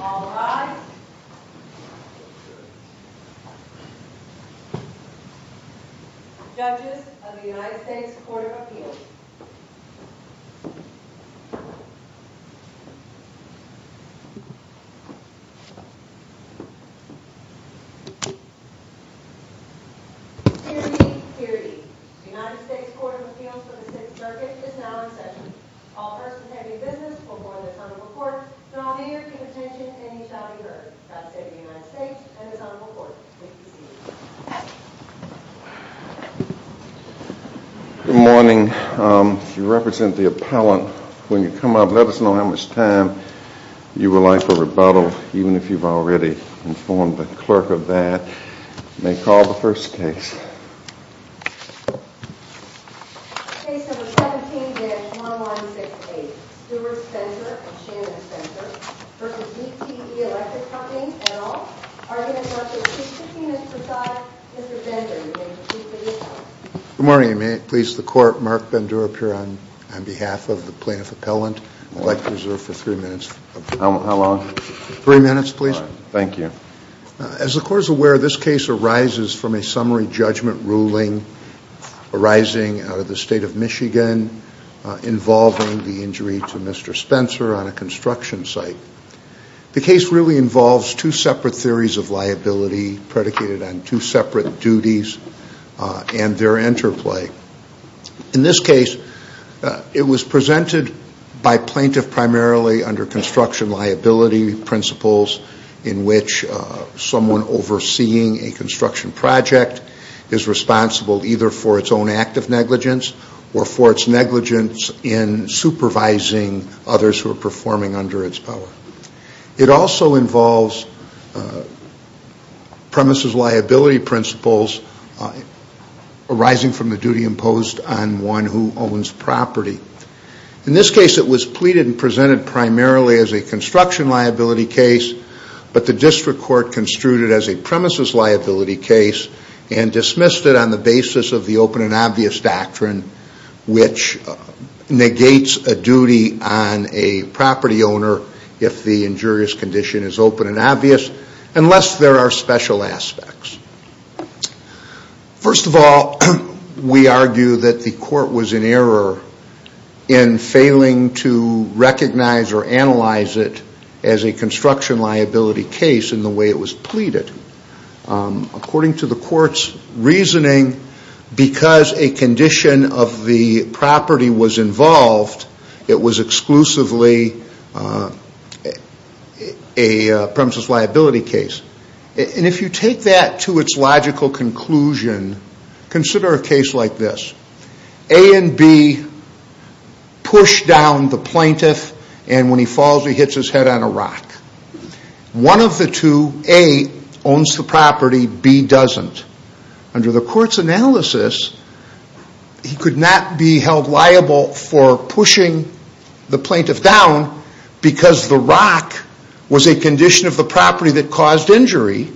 All rise. Judges of the United States Court of Appeals. Security, security. The United States Court of Appeals for the Sixth Circuit is now in session. All persons having business will go in the front of the court, and all the others, keep attention and you shall be heard. That said, the United States and his Honorable Court, please be seated. Good morning. You represent the appellant. When you come up, let us know how much time you would like for rebuttal, even if you've already informed the clerk of that. May call the first case. Case number 17-1168, Stewart Spencer v. DTE Electric Company, L. Good morning. May it please the court, Mark Bender up here on behalf of the plaintiff appellant. I'd like to reserve for three minutes. How long? Three minutes, please. Thank you. As the court is aware, this case arises from a summary judgment ruling arising out of the state of Michigan involving the injury to Mr. Spencer on a construction site. The case really involves two separate theories of liability predicated on two separate duties and their interplay. In this case, it was presented by plaintiff primarily under construction liability principles in which someone overseeing a construction project is responsible either for its own act of negligence or for its negligence in supervising others who are performing under its power. It also involves premises liability principles arising from the duty imposed on one who owns property. In this case, it was pleaded and presented primarily as a construction liability case, but the district court construed it as a premises liability case and dismissed it on the basis of the open and obvious doctrine, which negates a duty on a property owner if the injurious condition is open and obvious unless there are special aspects. First of all, we argue that the court was in error in failing to recognize or analyze it as a construction liability case in the way it was pleaded. According to the court's reasoning, because a condition of the property was involved, it was exclusively a premises liability case. If you take that to its logical conclusion, consider a case like this. A and B push down the plaintiff, and when he falls, he hits his head on a rock. One of the two, A owns the property, B doesn't. Under the court's analysis, he could not be held liable for pushing the plaintiff down because the rock was a condition of the property that caused injury.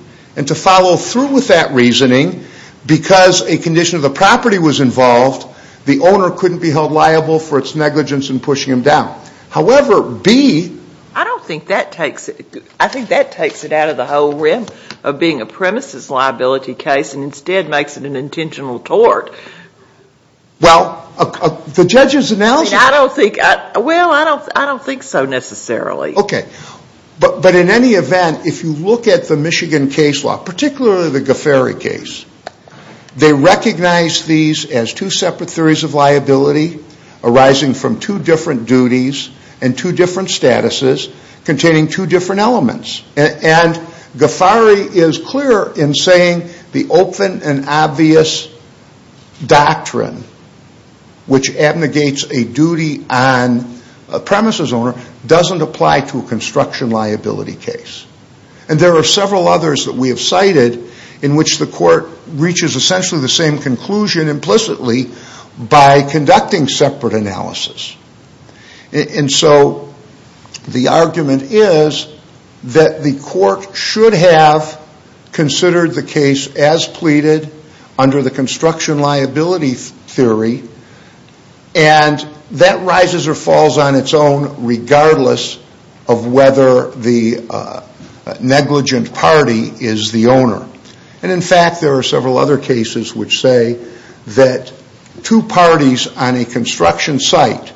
To follow through with that reasoning, because a condition of the property was involved, the owner couldn't be held liable for its negligence in pushing him down. However, B... I don't think that takes it out of the whole rim of being a premises liability case and instead makes it an intentional tort. Well, the judge's analysis... Well, I don't think so necessarily. Okay. But in any event, if you look at the Michigan case law, particularly the Goferi case, they recognize these as two separate theories of liability arising from two different duties and two different statuses containing two different elements. And Goferi is clear in saying the open and obvious doctrine, which abnegates a duty on a premises owner, doesn't apply to a construction liability case. And there are several others that we have cited in which the court reaches essentially the same conclusion implicitly by conducting separate analysis. And so the argument is that the court should have considered the case as pleaded under the construction liability theory, and that rises or falls on its own regardless of whether the negligent party is the owner. And in fact, there are several other cases which say that two parties on a construction site,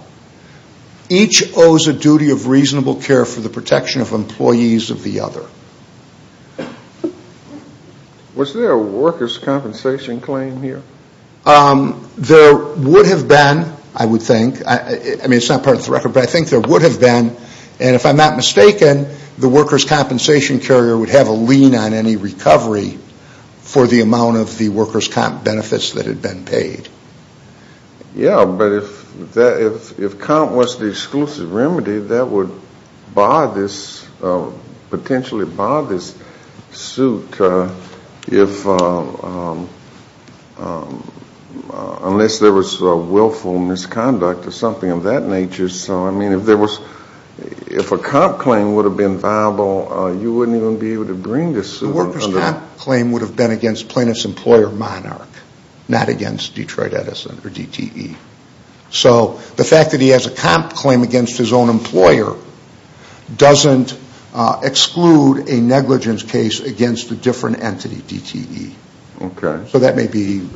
each owes a duty of reasonable care for the protection of employees of the other. Was there a workers' compensation claim here? There would have been, I would think. I mean, it's not part of the record, but I think there would have been. And if I'm not mistaken, the workers' compensation carrier would have a lien on any recovery for the amount of the workers' comp benefits that had been paid. Yeah, but if comp was the exclusive remedy, that would potentially buy this suit unless there was willful misconduct or something of that nature. So, I mean, if a comp claim would have been viable, you wouldn't even be able to bring this suit. The workers' comp claim would have been against plaintiff's employer, Monarch, not against Detroit Edison or DTE. So the fact that he has a comp claim against his own employer doesn't exclude a negligence case against a different entity, DTE. Okay. So that may be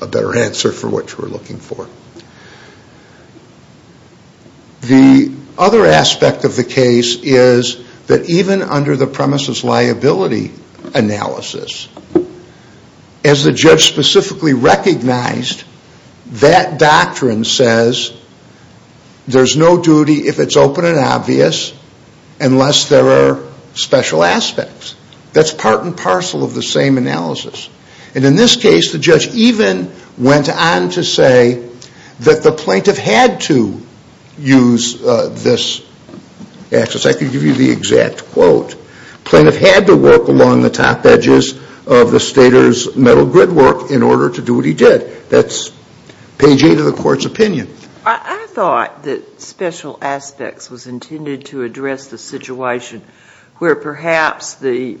a better answer for what you were looking for. The other aspect of the case is that even under the premises liability analysis, as the judge specifically recognized, that doctrine says there's no duty if it's open and obvious unless there are special aspects. That's part and parcel of the same analysis. And in this case, the judge even went on to say that the plaintiff had to use this access. I could give you the exact quote. Plaintiff had to work along the top edges of the stater's metal grid work in order to do what he did. That's page 8 of the court's opinion. I thought that special aspects was intended to address the situation where perhaps the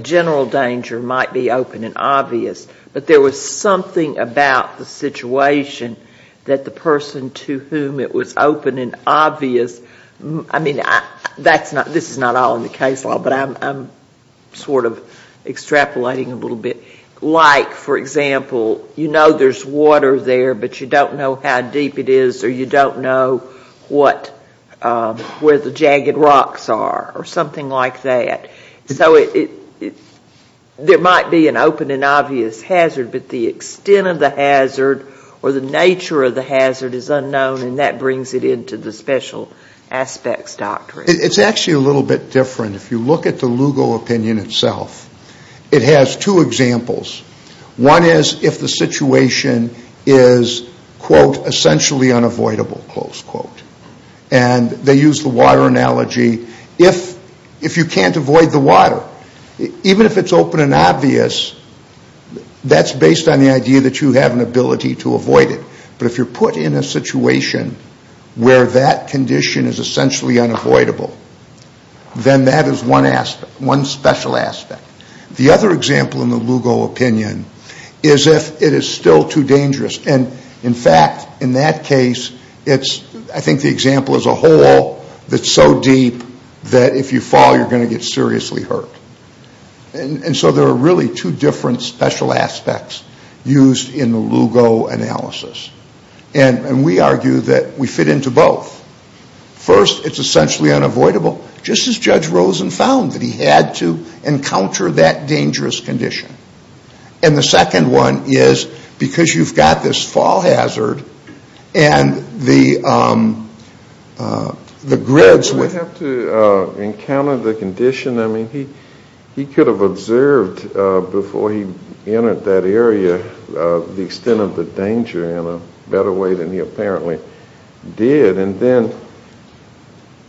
general danger might be open and obvious, but there was something about the situation that the person to whom it was open and obvious, I mean, this is not all in the case law, but I'm sort of extrapolating a little bit. Like, for example, you know there's water there, but you don't know how deep it is or you don't know where the jagged rocks are or something like that. So there might be an open and obvious hazard, but the extent of the hazard or the nature of the hazard is unknown, and that brings it into the special aspects doctrine. It's actually a little bit different. If you look at the Lugo opinion itself, it has two examples. One is if the situation is, quote, essentially unavoidable, close quote. And they use the water analogy. If you can't avoid the water, even if it's open and obvious, that's based on the idea that you have an ability to avoid it. But if you're put in a situation where that condition is essentially unavoidable, then that is one aspect, one special aspect. The other example in the Lugo opinion is if it is still too dangerous. And, in fact, in that case, it's, I think the example is a hole that's so deep that if you fall, you're going to get seriously hurt. And so there are really two different special aspects used in the Lugo analysis. And we argue that we fit into both. First, it's essentially unavoidable, just as Judge Rosen found that he had to encounter that dangerous condition. And the second one is because you've got this fall hazard and the grids with it. We have to encounter the condition. I mean, he could have observed before he entered that area the extent of the danger in a better way than he apparently did. And then,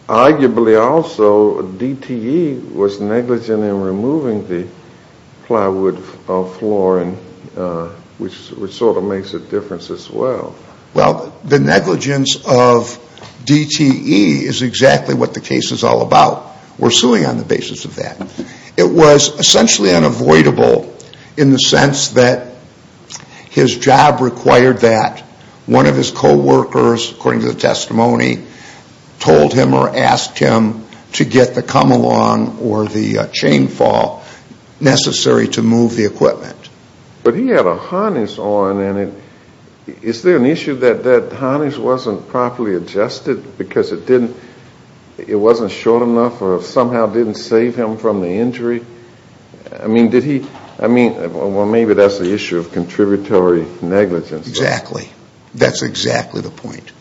arguably also, DTE was negligent in removing the plywood floor, which sort of makes a difference as well. Well, the negligence of DTE is exactly what the case is all about. We're suing on the basis of that. It was essentially unavoidable in the sense that his job required that. One of his coworkers, according to the testimony, told him or asked him to get the come-along or the chain fall necessary to move the equipment. But he had a harness on, and is there an issue that that harness wasn't properly adjusted because it wasn't short enough or somehow didn't save him from the injury? I mean, did he, I mean, well, maybe that's the issue of contributory negligence. Exactly. That's exactly the point.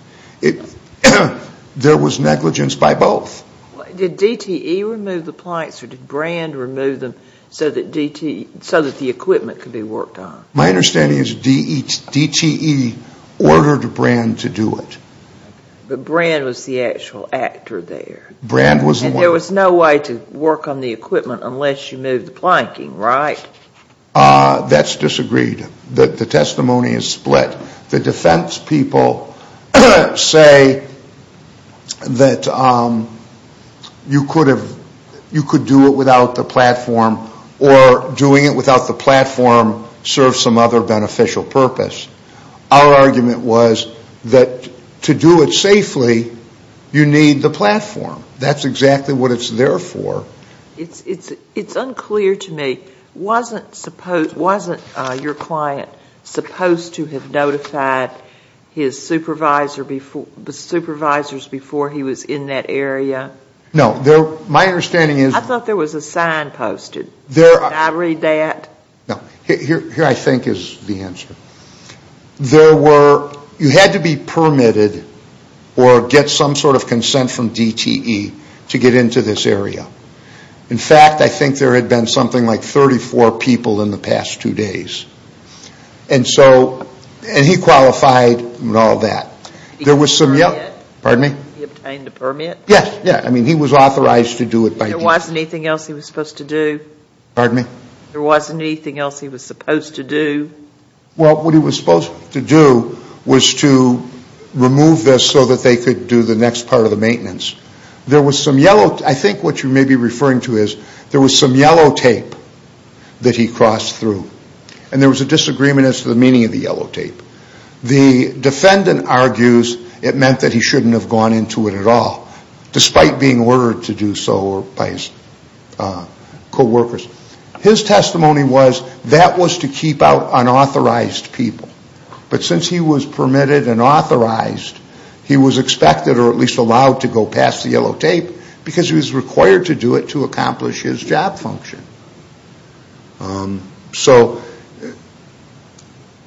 There was negligence by both. Did DTE remove the planks or did Brand remove them so that DTE, so that the equipment could be worked on? My understanding is DTE ordered Brand to do it. But Brand was the actual actor there. Brand was the one. And there was no way to work on the equipment unless you moved the planking, right? That's disagreed. The testimony is split. The defense people say that you could do it without the platform or doing it without the platform serves some other beneficial purpose. Our argument was that to do it safely, you need the platform. That's exactly what it's there for. It's unclear to me, wasn't your client supposed to have notified his supervisors before he was in that area? No. My understanding is I thought there was a sign posted. Can I read that? No. Here I think is the answer. There were, you had to be permitted or get some sort of consent from DTE to get into this area. In fact, I think there had been something like 34 people in the past two days. And so, and he qualified and all that. There was some, pardon me? He obtained a permit? Yes, yes. I mean he was authorized to do it by DTE. There wasn't anything else he was supposed to do? Pardon me? There wasn't anything else he was supposed to do? Well, what he was supposed to do was to remove this so that they could do the next part of the maintenance. There was some yellow, I think what you may be referring to is, there was some yellow tape that he crossed through. And there was a disagreement as to the meaning of the yellow tape. The defendant argues it meant that he shouldn't have gone into it at all, despite being ordered to do so by his coworkers. His testimony was that was to keep out unauthorized people. But since he was permitted and authorized, he was expected or at least allowed to go past the yellow tape because he was required to do it to accomplish his job function. So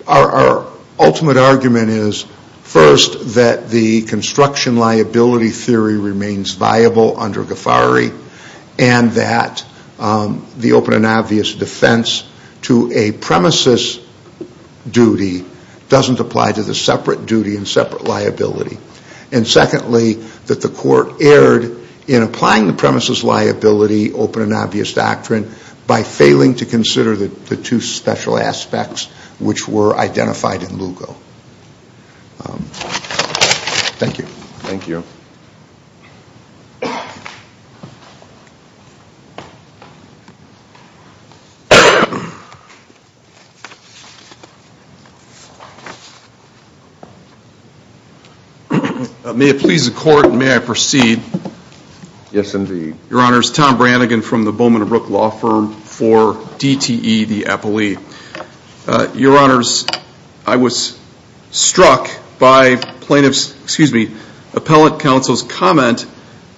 our ultimate argument is, first, that the construction liability theory remains viable under GAFARI and that the open and obvious defense to a premises duty doesn't apply to the separate duty and separate liability. And secondly, that the court erred in applying the premises liability open and obvious doctrine by failing to consider the two special aspects which were identified in Lugo. Thank you. Thank you. Thank you. May it please the court, may I proceed? Yes, indeed. Your Honors, Tom Brannigan from the Bowman and Brooke Law Firm for DTE, the appellee. Your Honors, I was struck by plaintiff's, excuse me, appellate counsel's comment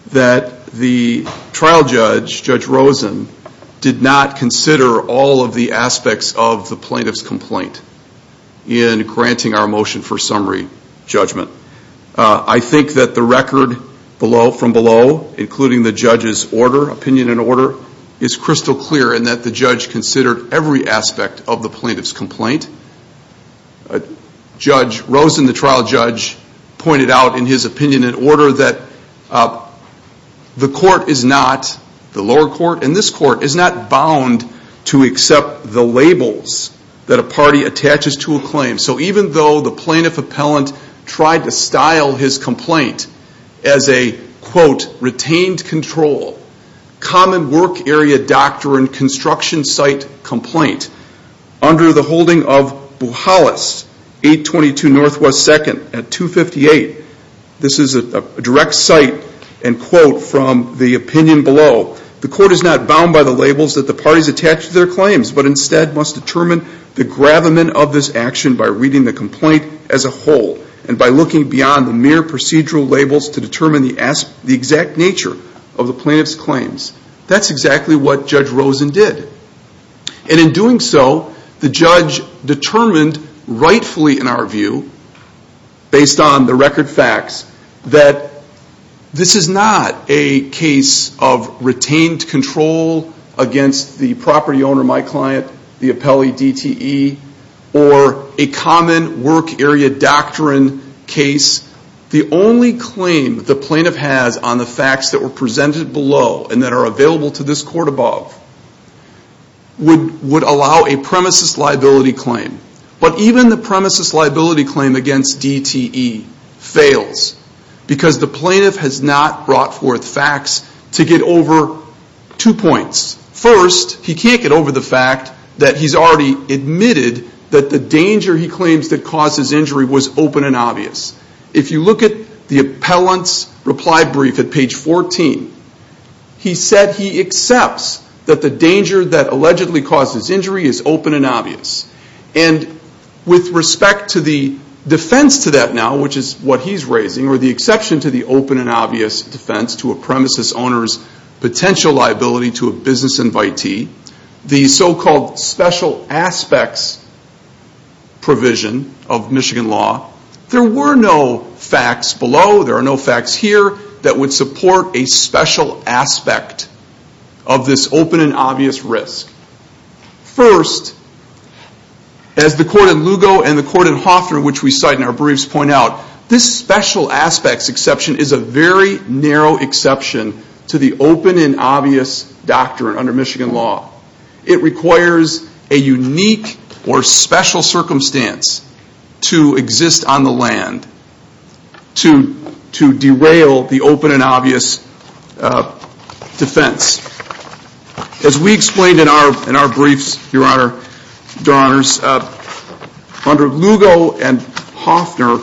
that the trial judge, Judge Rosen, did not consider all of the aspects of the plaintiff's complaint in granting our motion for summary judgment. I think that the record from below, including the judge's opinion and order, is crystal clear in that the judge considered every aspect of the plaintiff's complaint. Judge Rosen, the trial judge, pointed out in his opinion and order that the court is not, the lower court and this court, is not bound to accept the labels that a party attaches to a claim. So even though the plaintiff appellant tried to style his complaint as a, quote, common work area doctrine construction site complaint under the holding of Buhalas, 822 Northwest 2nd at 258. This is a direct cite and quote from the opinion below. The court is not bound by the labels that the parties attach to their claims, but instead must determine the gravamen of this action by reading the complaint as a whole and by looking beyond the mere procedural labels to determine the exact nature of the plaintiff's claims. That's exactly what Judge Rosen did. And in doing so, the judge determined rightfully in our view, based on the record facts, that this is not a case of retained control against the property owner, my client, the appellee DTE, or a common work area doctrine case. The only claim the plaintiff has on the facts that were presented below and that are available to this court above would allow a premises liability claim. But even the premises liability claim against DTE fails because the plaintiff has not brought forth facts to get over two points. First, he can't get over the fact that he's already admitted that the danger he claims that caused his injury was open and obvious. If you look at the appellant's reply brief at page 14, he said he accepts that the danger that allegedly caused his injury is open and obvious. And with respect to the defense to that now, which is what he's raising, or the exception to the open and obvious defense to a premises owner's potential liability to a business invitee, the so-called special aspects provision of Michigan law, there were no facts below, there are no facts here, that would support a special aspect of this open and obvious risk. First, as the court in Lugo and the court in Hawthorne, which we cite in our briefs, point out, this special aspects exception is a very narrow exception to the open and obvious doctrine under Michigan law. It requires a unique or special circumstance to exist on the land to derail the open and obvious defense. As we explained in our briefs, your honors, under Lugo and Hawthorne,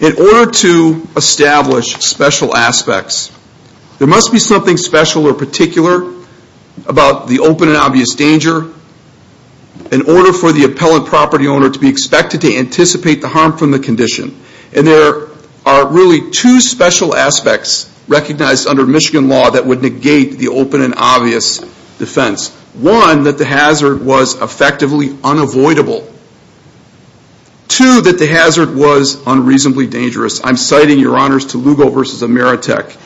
in order to establish special aspects, there must be something special or particular about the open and obvious danger in order for the appellant property owner to be expected to anticipate the harm from the condition. And there are really two special aspects recognized under Michigan law that would negate the open and obvious defense. One, that the hazard was effectively unavoidable. Two, that the hazard was unreasonably dangerous. I'm citing your honors to Lugo v. Ameritech.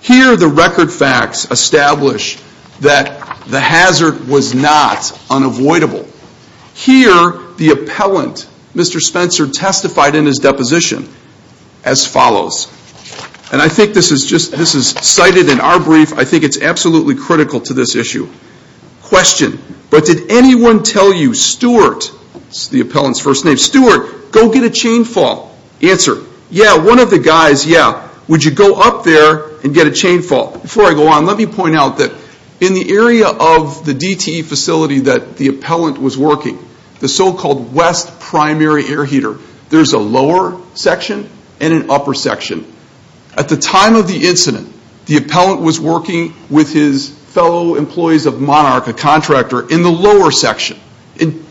Here the record facts establish that the hazard was not unavoidable. Here, the appellant, Mr. Spencer, testified in his deposition as follows. And I think this is just, this is cited in our brief. I think it's absolutely critical to this issue. Question, but did anyone tell you, Stewart, the appellant's first name, Stewart, go get a chain fall. Answer, yeah, one of the guys, yeah. Would you go up there and get a chain fall? Before I go on, let me point out that in the area of the DTE facility that the appellant was working, the so-called west primary air heater, there's a lower section and an upper section. At the time of the incident, the appellant was working with his fellow employees of Monarch, a contractor, in the lower section.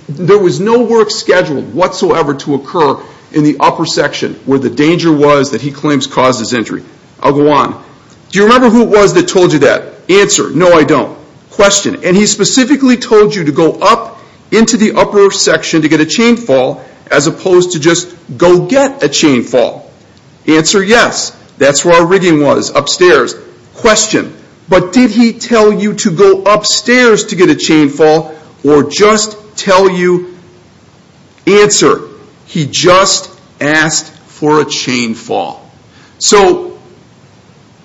There was no work scheduled whatsoever to occur in the upper section where the danger was that he claims caused his injury. I'll go on. Do you remember who it was that told you that? Answer, no, I don't. Question, and he specifically told you to go up into the upper section to get a chain fall as opposed to just go get a chain fall. Answer, yes, that's where our rigging was, upstairs. Question, but did he tell you to go upstairs to get a chain fall or just tell you... Answer, he just asked for a chain fall. So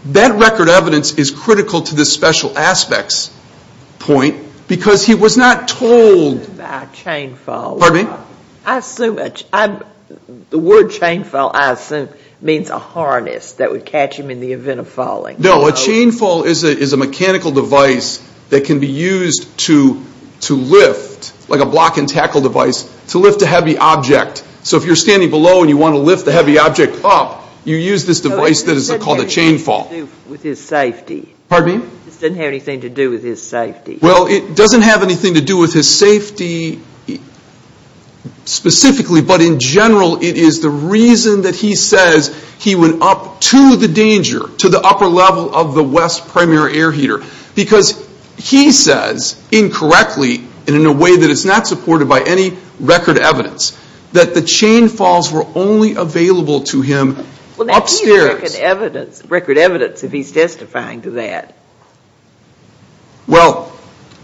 that record evidence is critical to this special aspects point because he was not told... A chain fall. Pardon me? I assume, the word chain fall I assume means a harness that would catch him in the event of falling. No, a chain fall is a mechanical device that can be used to lift, like a block and tackle device, to lift a heavy object. So if you're standing below and you want to lift the heavy object up, you use this device that is called a chain fall. This doesn't have anything to do with his safety. Pardon me? This doesn't have anything to do with his safety. Well, it doesn't have anything to do with his safety specifically, but in general it is the reason that he says he went up to the danger, to the upper level of the West Primary Air Heater, because he says, incorrectly, and in a way that is not supported by any record evidence, that the chain falls were only available to him upstairs. Well, that is record evidence if he's testifying to that. Well,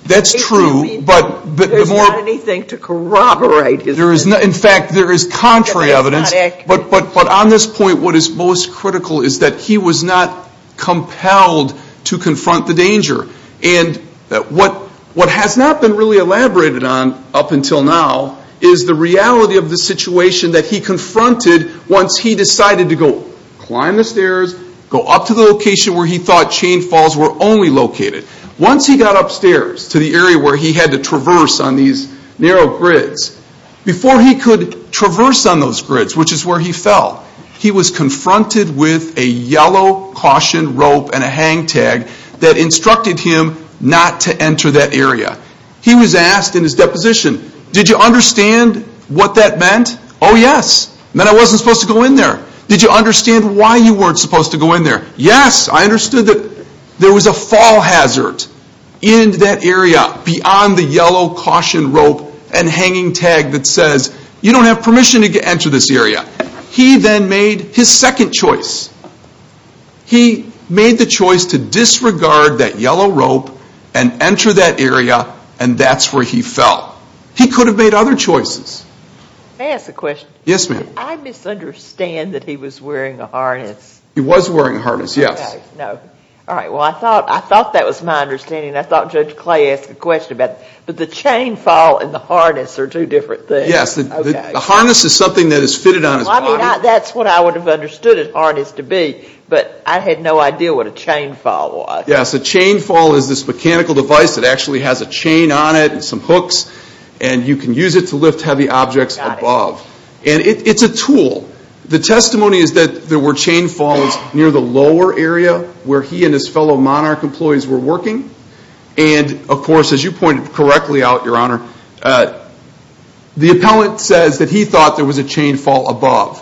that's true, but... There's not anything to corroborate his... In fact, there is contrary evidence, but on this point what is most critical is that he was not compelled to confront the danger. And what has not been really elaborated on up until now is the reality of the situation that he confronted once he decided to go climb the stairs, go up to the location where he thought chain falls were only located. Once he got upstairs to the area where he had to traverse on these narrow grids, before he could traverse on those grids, which is where he fell, he was confronted with a yellow caution rope and a hang tag that instructed him not to enter that area. He was asked in his deposition, did you understand what that meant? Oh, yes. Then I wasn't supposed to go in there. Did you understand why you weren't supposed to go in there? Yes, I understood that there was a fall hazard in that area beyond the yellow caution rope and hanging tag that says, you don't have permission to enter this area. He then made his second choice. He made the choice to disregard that yellow rope and enter that area, and that's where he fell. He could have made other choices. May I ask a question? Yes, ma'am. Did I misunderstand that he was wearing a harness? He was wearing a harness, yes. Okay, no. All right, well, I thought that was my understanding, and I thought Judge Clay asked a question about it. But the chain fall and the harness are two different things. Yes, the harness is something that is fitted on his body. Well, I mean, that's what I would have understood a harness to be, but I had no idea what a chain fall was. Yes, a chain fall is this mechanical device that actually has a chain on it and some hooks, and you can use it to lift heavy objects above. And it's a tool. The testimony is that there were chain falls near the lower area where he and his fellow Monarch employees were working. And, of course, as you pointed correctly out, Your Honor, the appellant says that he thought there was a chain fall above.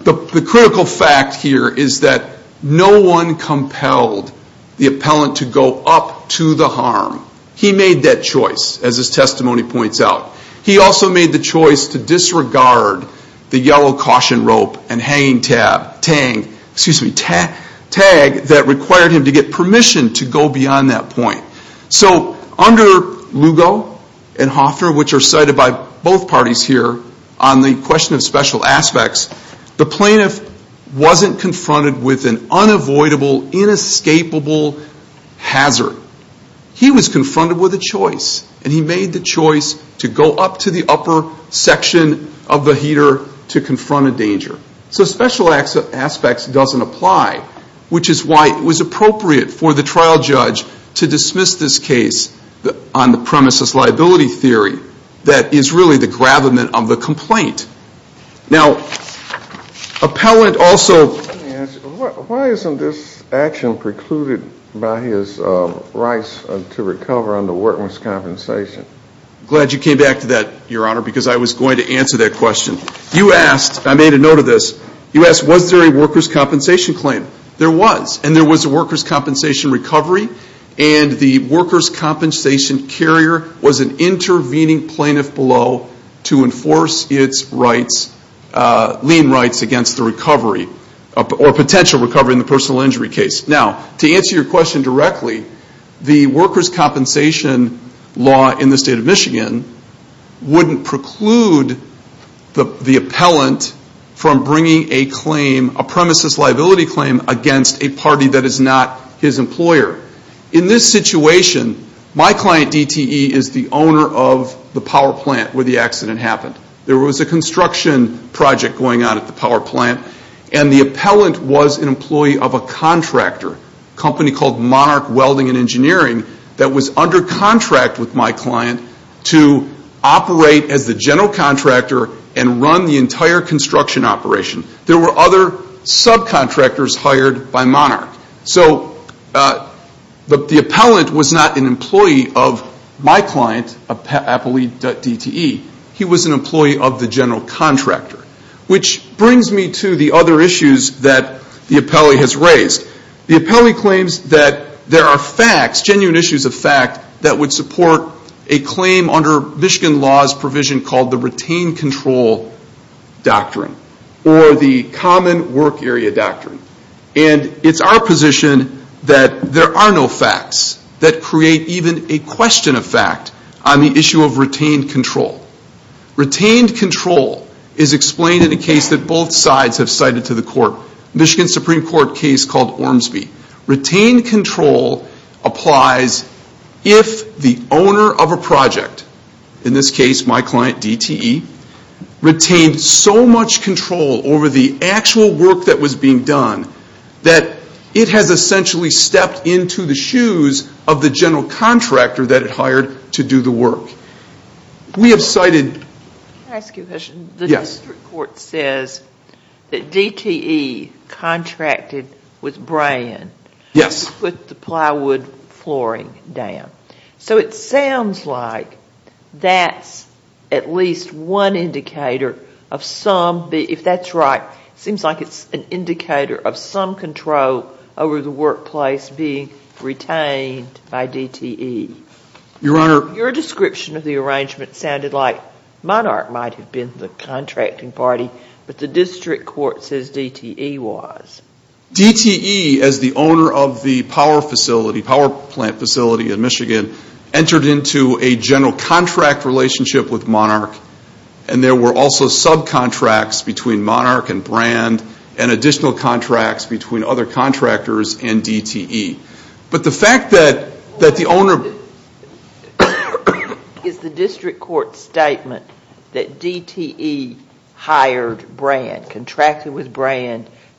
The critical fact here is that no one compelled the appellant to go up to the harm. He made that choice, as his testimony points out. He also made the choice to disregard the yellow caution rope and hanging tag that required him to get permission to go beyond that point. So under Lugo and Hoffner, which are cited by both parties here, on the question of special aspects, the plaintiff wasn't confronted with an unavoidable, inescapable hazard. He was confronted with a choice, and he made the choice to go up to the upper section of the heater to confront a danger. So special aspects doesn't apply, which is why it was appropriate for the trial judge to dismiss this case on the premise of liability theory that is really the gravamen of the complaint. Now, appellant also— Let me ask you, why isn't this action precluded by his rights to recover under worker's compensation? I'm glad you came back to that, Your Honor, because I was going to answer that question. You asked, I made a note of this, you asked was there a worker's compensation claim. There was, and there was a worker's compensation recovery, and the worker's compensation carrier was an intervening plaintiff below to enforce its rights, lien rights against the recovery, or potential recovery in the personal injury case. Now, to answer your question directly, the worker's compensation law in the state of Michigan wouldn't preclude the appellant from bringing a claim, a premises liability claim, against a party that is not his employer. In this situation, my client DTE is the owner of the power plant where the accident happened. There was a construction project going on at the power plant, and the appellant was an employee of a contractor, a company called Monarch Welding and Engineering, that was under contract with my client to operate as the general contractor and run the entire construction operation. There were other subcontractors hired by Monarch. So the appellant was not an employee of my client, Appley DTE. He was an employee of the general contractor, which brings me to the other issues that the appellee has raised. The appellee claims that there are facts, genuine issues of fact, that would support a claim under Michigan law's provision called the retained control doctrine or the common work area doctrine. And it's our position that there are no facts that create even a question of fact on the issue of retained control. Retained control is explained in a case that both sides have cited to the court, Michigan Supreme Court case called Ormsby. Retained control applies if the owner of a project, in this case my client DTE, retained so much control over the actual work that was being done that it has essentially stepped into the shoes of the general contractor that it hired to do the work. We have cited... Yes. ...to put the plywood flooring down. So it sounds like that's at least one indicator of some, if that's right, it seems like it's an indicator of some control over the workplace being retained by DTE. Your Honor... Your description of the arrangement sounded like Monarch might have been the contracting party, but the district court says DTE was. DTE, as the owner of the power plant facility in Michigan, entered into a general contract relationship with Monarch, and there were also subcontracts between Monarch and Brand and additional contracts between other contractors and DTE. But the fact that the owner... Is the district court's statement that DTE hired Brand,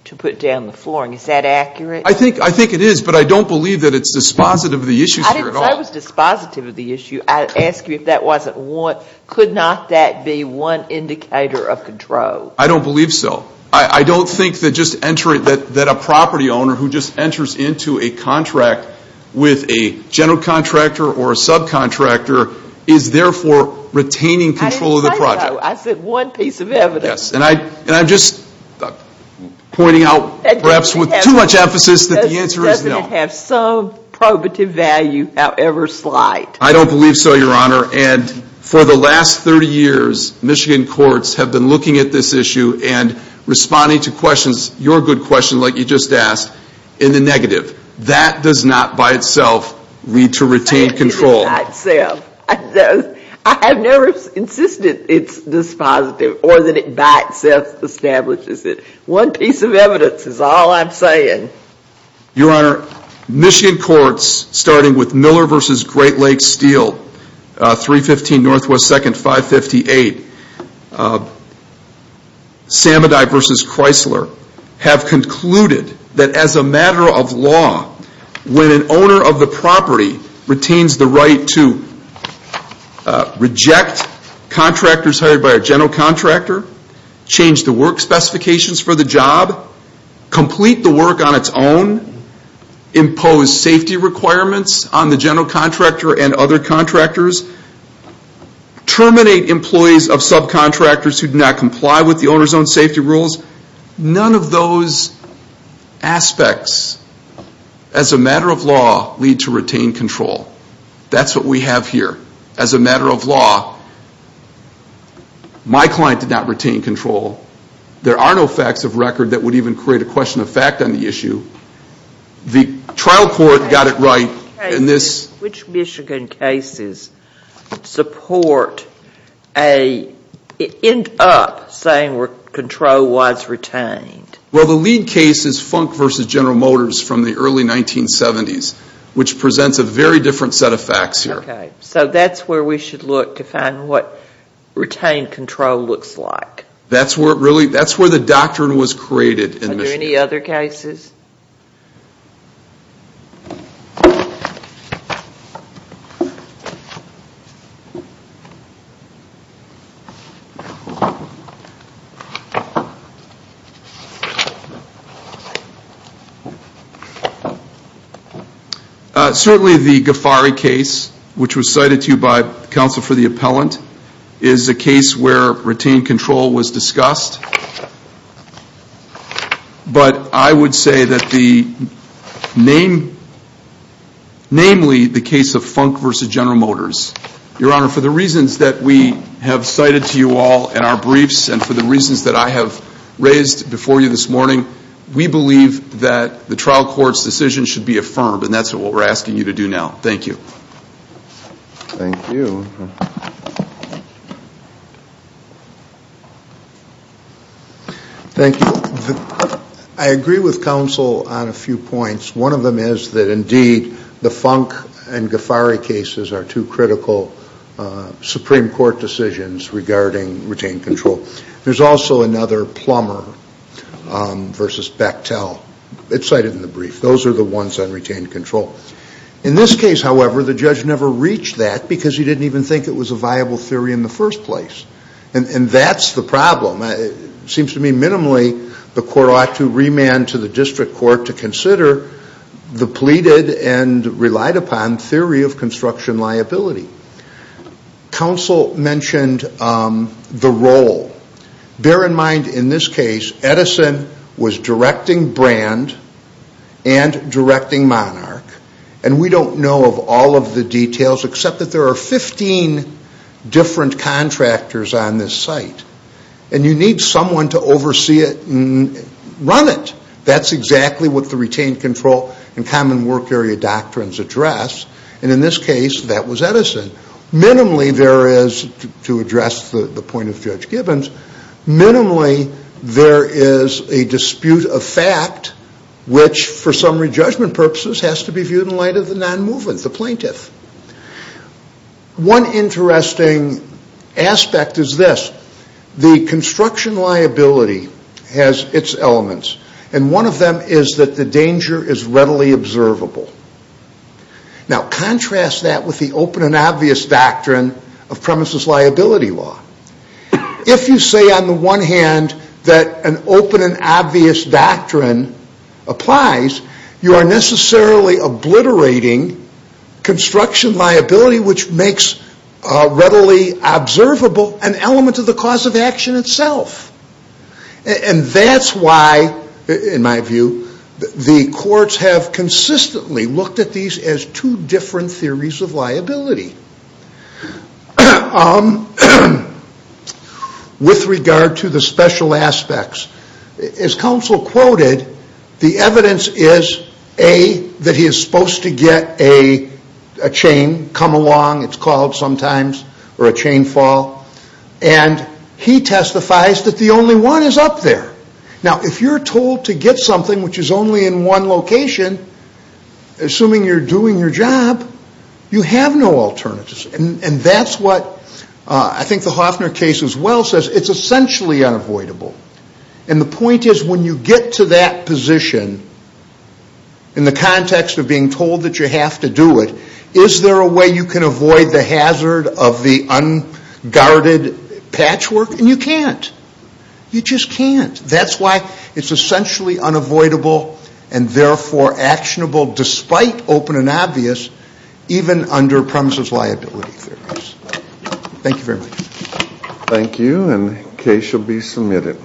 to put down the flooring, is that accurate? I think it is, but I don't believe that it's dispositive of the issue here at all. I didn't say it was dispositive of the issue. I ask you if that wasn't one. Could not that be one indicator of control? I don't believe so. I don't think that just entering, that a property owner who just enters into a contract with a general contractor or a subcontractor is therefore retaining control of the project. I didn't say that, though. I said one piece of evidence. Yes. And I'm just pointing out perhaps with too much emphasis that the answer is no. It doesn't have some probative value, however slight. I don't believe so, Your Honor. And for the last 30 years, Michigan courts have been looking at this issue and responding to questions, your good question, like you just asked, in the negative. That does not by itself lead to retained control. I have never insisted it's dispositive or that it by itself establishes it. One piece of evidence is all I'm saying. Your Honor, Michigan courts, starting with Miller v. Great Lakes Steel, 315 NW 2nd 558, Samadai v. Chrysler have concluded that as a matter of law, when an owner of the property retains the right to reject contractors hired by a general contractor, change the work specifications for the job, complete the work on its own, impose safety requirements on the general contractor and other contractors, terminate employees of subcontractors who do not comply with the owner's own safety rules, none of those aspects, as a matter of law, lead to retained control. That's what we have here. As a matter of law, my client did not retain control. There are no facts of record that would even create a question of fact on the issue. The trial court got it right. Which Michigan cases end up saying control was retained? Well, the lead case is Funk v. General Motors from the early 1970s, which presents a very different set of facts here. So that's where we should look to find what retained control looks like. That's where the doctrine was created in Michigan. Are there any other cases? Certainly the Ghaffari case, which was cited to you by counsel for the appellant, is a case where retained control was discussed. But I would say that namely the case of Funk v. General Motors. Your Honor, for the reasons that we have cited to you all in our briefs and for the reasons that I have raised before you this morning, we believe that the trial court's decision should be affirmed, and that's what we're asking you to do now. Thank you. Thank you. I agree with counsel on a few points. One of them is that indeed the Funk and Ghaffari cases are two critical Supreme Court decisions regarding retained control. There's also another, Plummer v. Bechtel. It's cited in the brief. Those are the ones on retained control. In this case, however, the judge never reached that because he didn't even think it was a viable theory in the first place. And that's the problem. It seems to me minimally the court ought to remand to the district court to consider the pleaded and relied upon theory of construction liability. Counsel mentioned the role. Bear in mind, in this case, Edison was directing Brand and directing Monarch, and we don't know of all of the details except that there are 15 different contractors on this site. And you need someone to oversee it and run it. That's exactly what the retained control and common work area doctrines address. And in this case, that was Edison. Minimally there is, to address the point of Judge Gibbons, minimally there is a dispute of fact which, for summary judgment purposes, has to be viewed in light of the non-movement, the plaintiff. One interesting aspect is this. The construction liability has its elements, and one of them is that the danger is readily observable. Now contrast that with the open and obvious doctrine of premises liability law. If you say on the one hand that an open and obvious doctrine applies, you are necessarily obliterating construction liability, which makes readily observable an element of the cause of action itself. And that's why, in my view, the courts have consistently looked at these as two different theories of liability. With regard to the special aspects, as counsel quoted, the evidence is A, that he is supposed to get a chain come along, it's called sometimes, or a chain fall. And he testifies that the only one is up there. Now if you're told to get something which is only in one location, assuming you're doing your job, you have no alternatives. And that's what, I think the Hoffner case as well says, it's essentially unavoidable. And the point is when you get to that position, in the context of being told that you have to do it, is there a way you can avoid the hazard of the unguarded patchwork? And you can't. You just can't. That's why it's essentially unavoidable, and therefore actionable despite open and obvious, even under premises liability theories. Thank you very much. Thank you, and the case shall be submitted.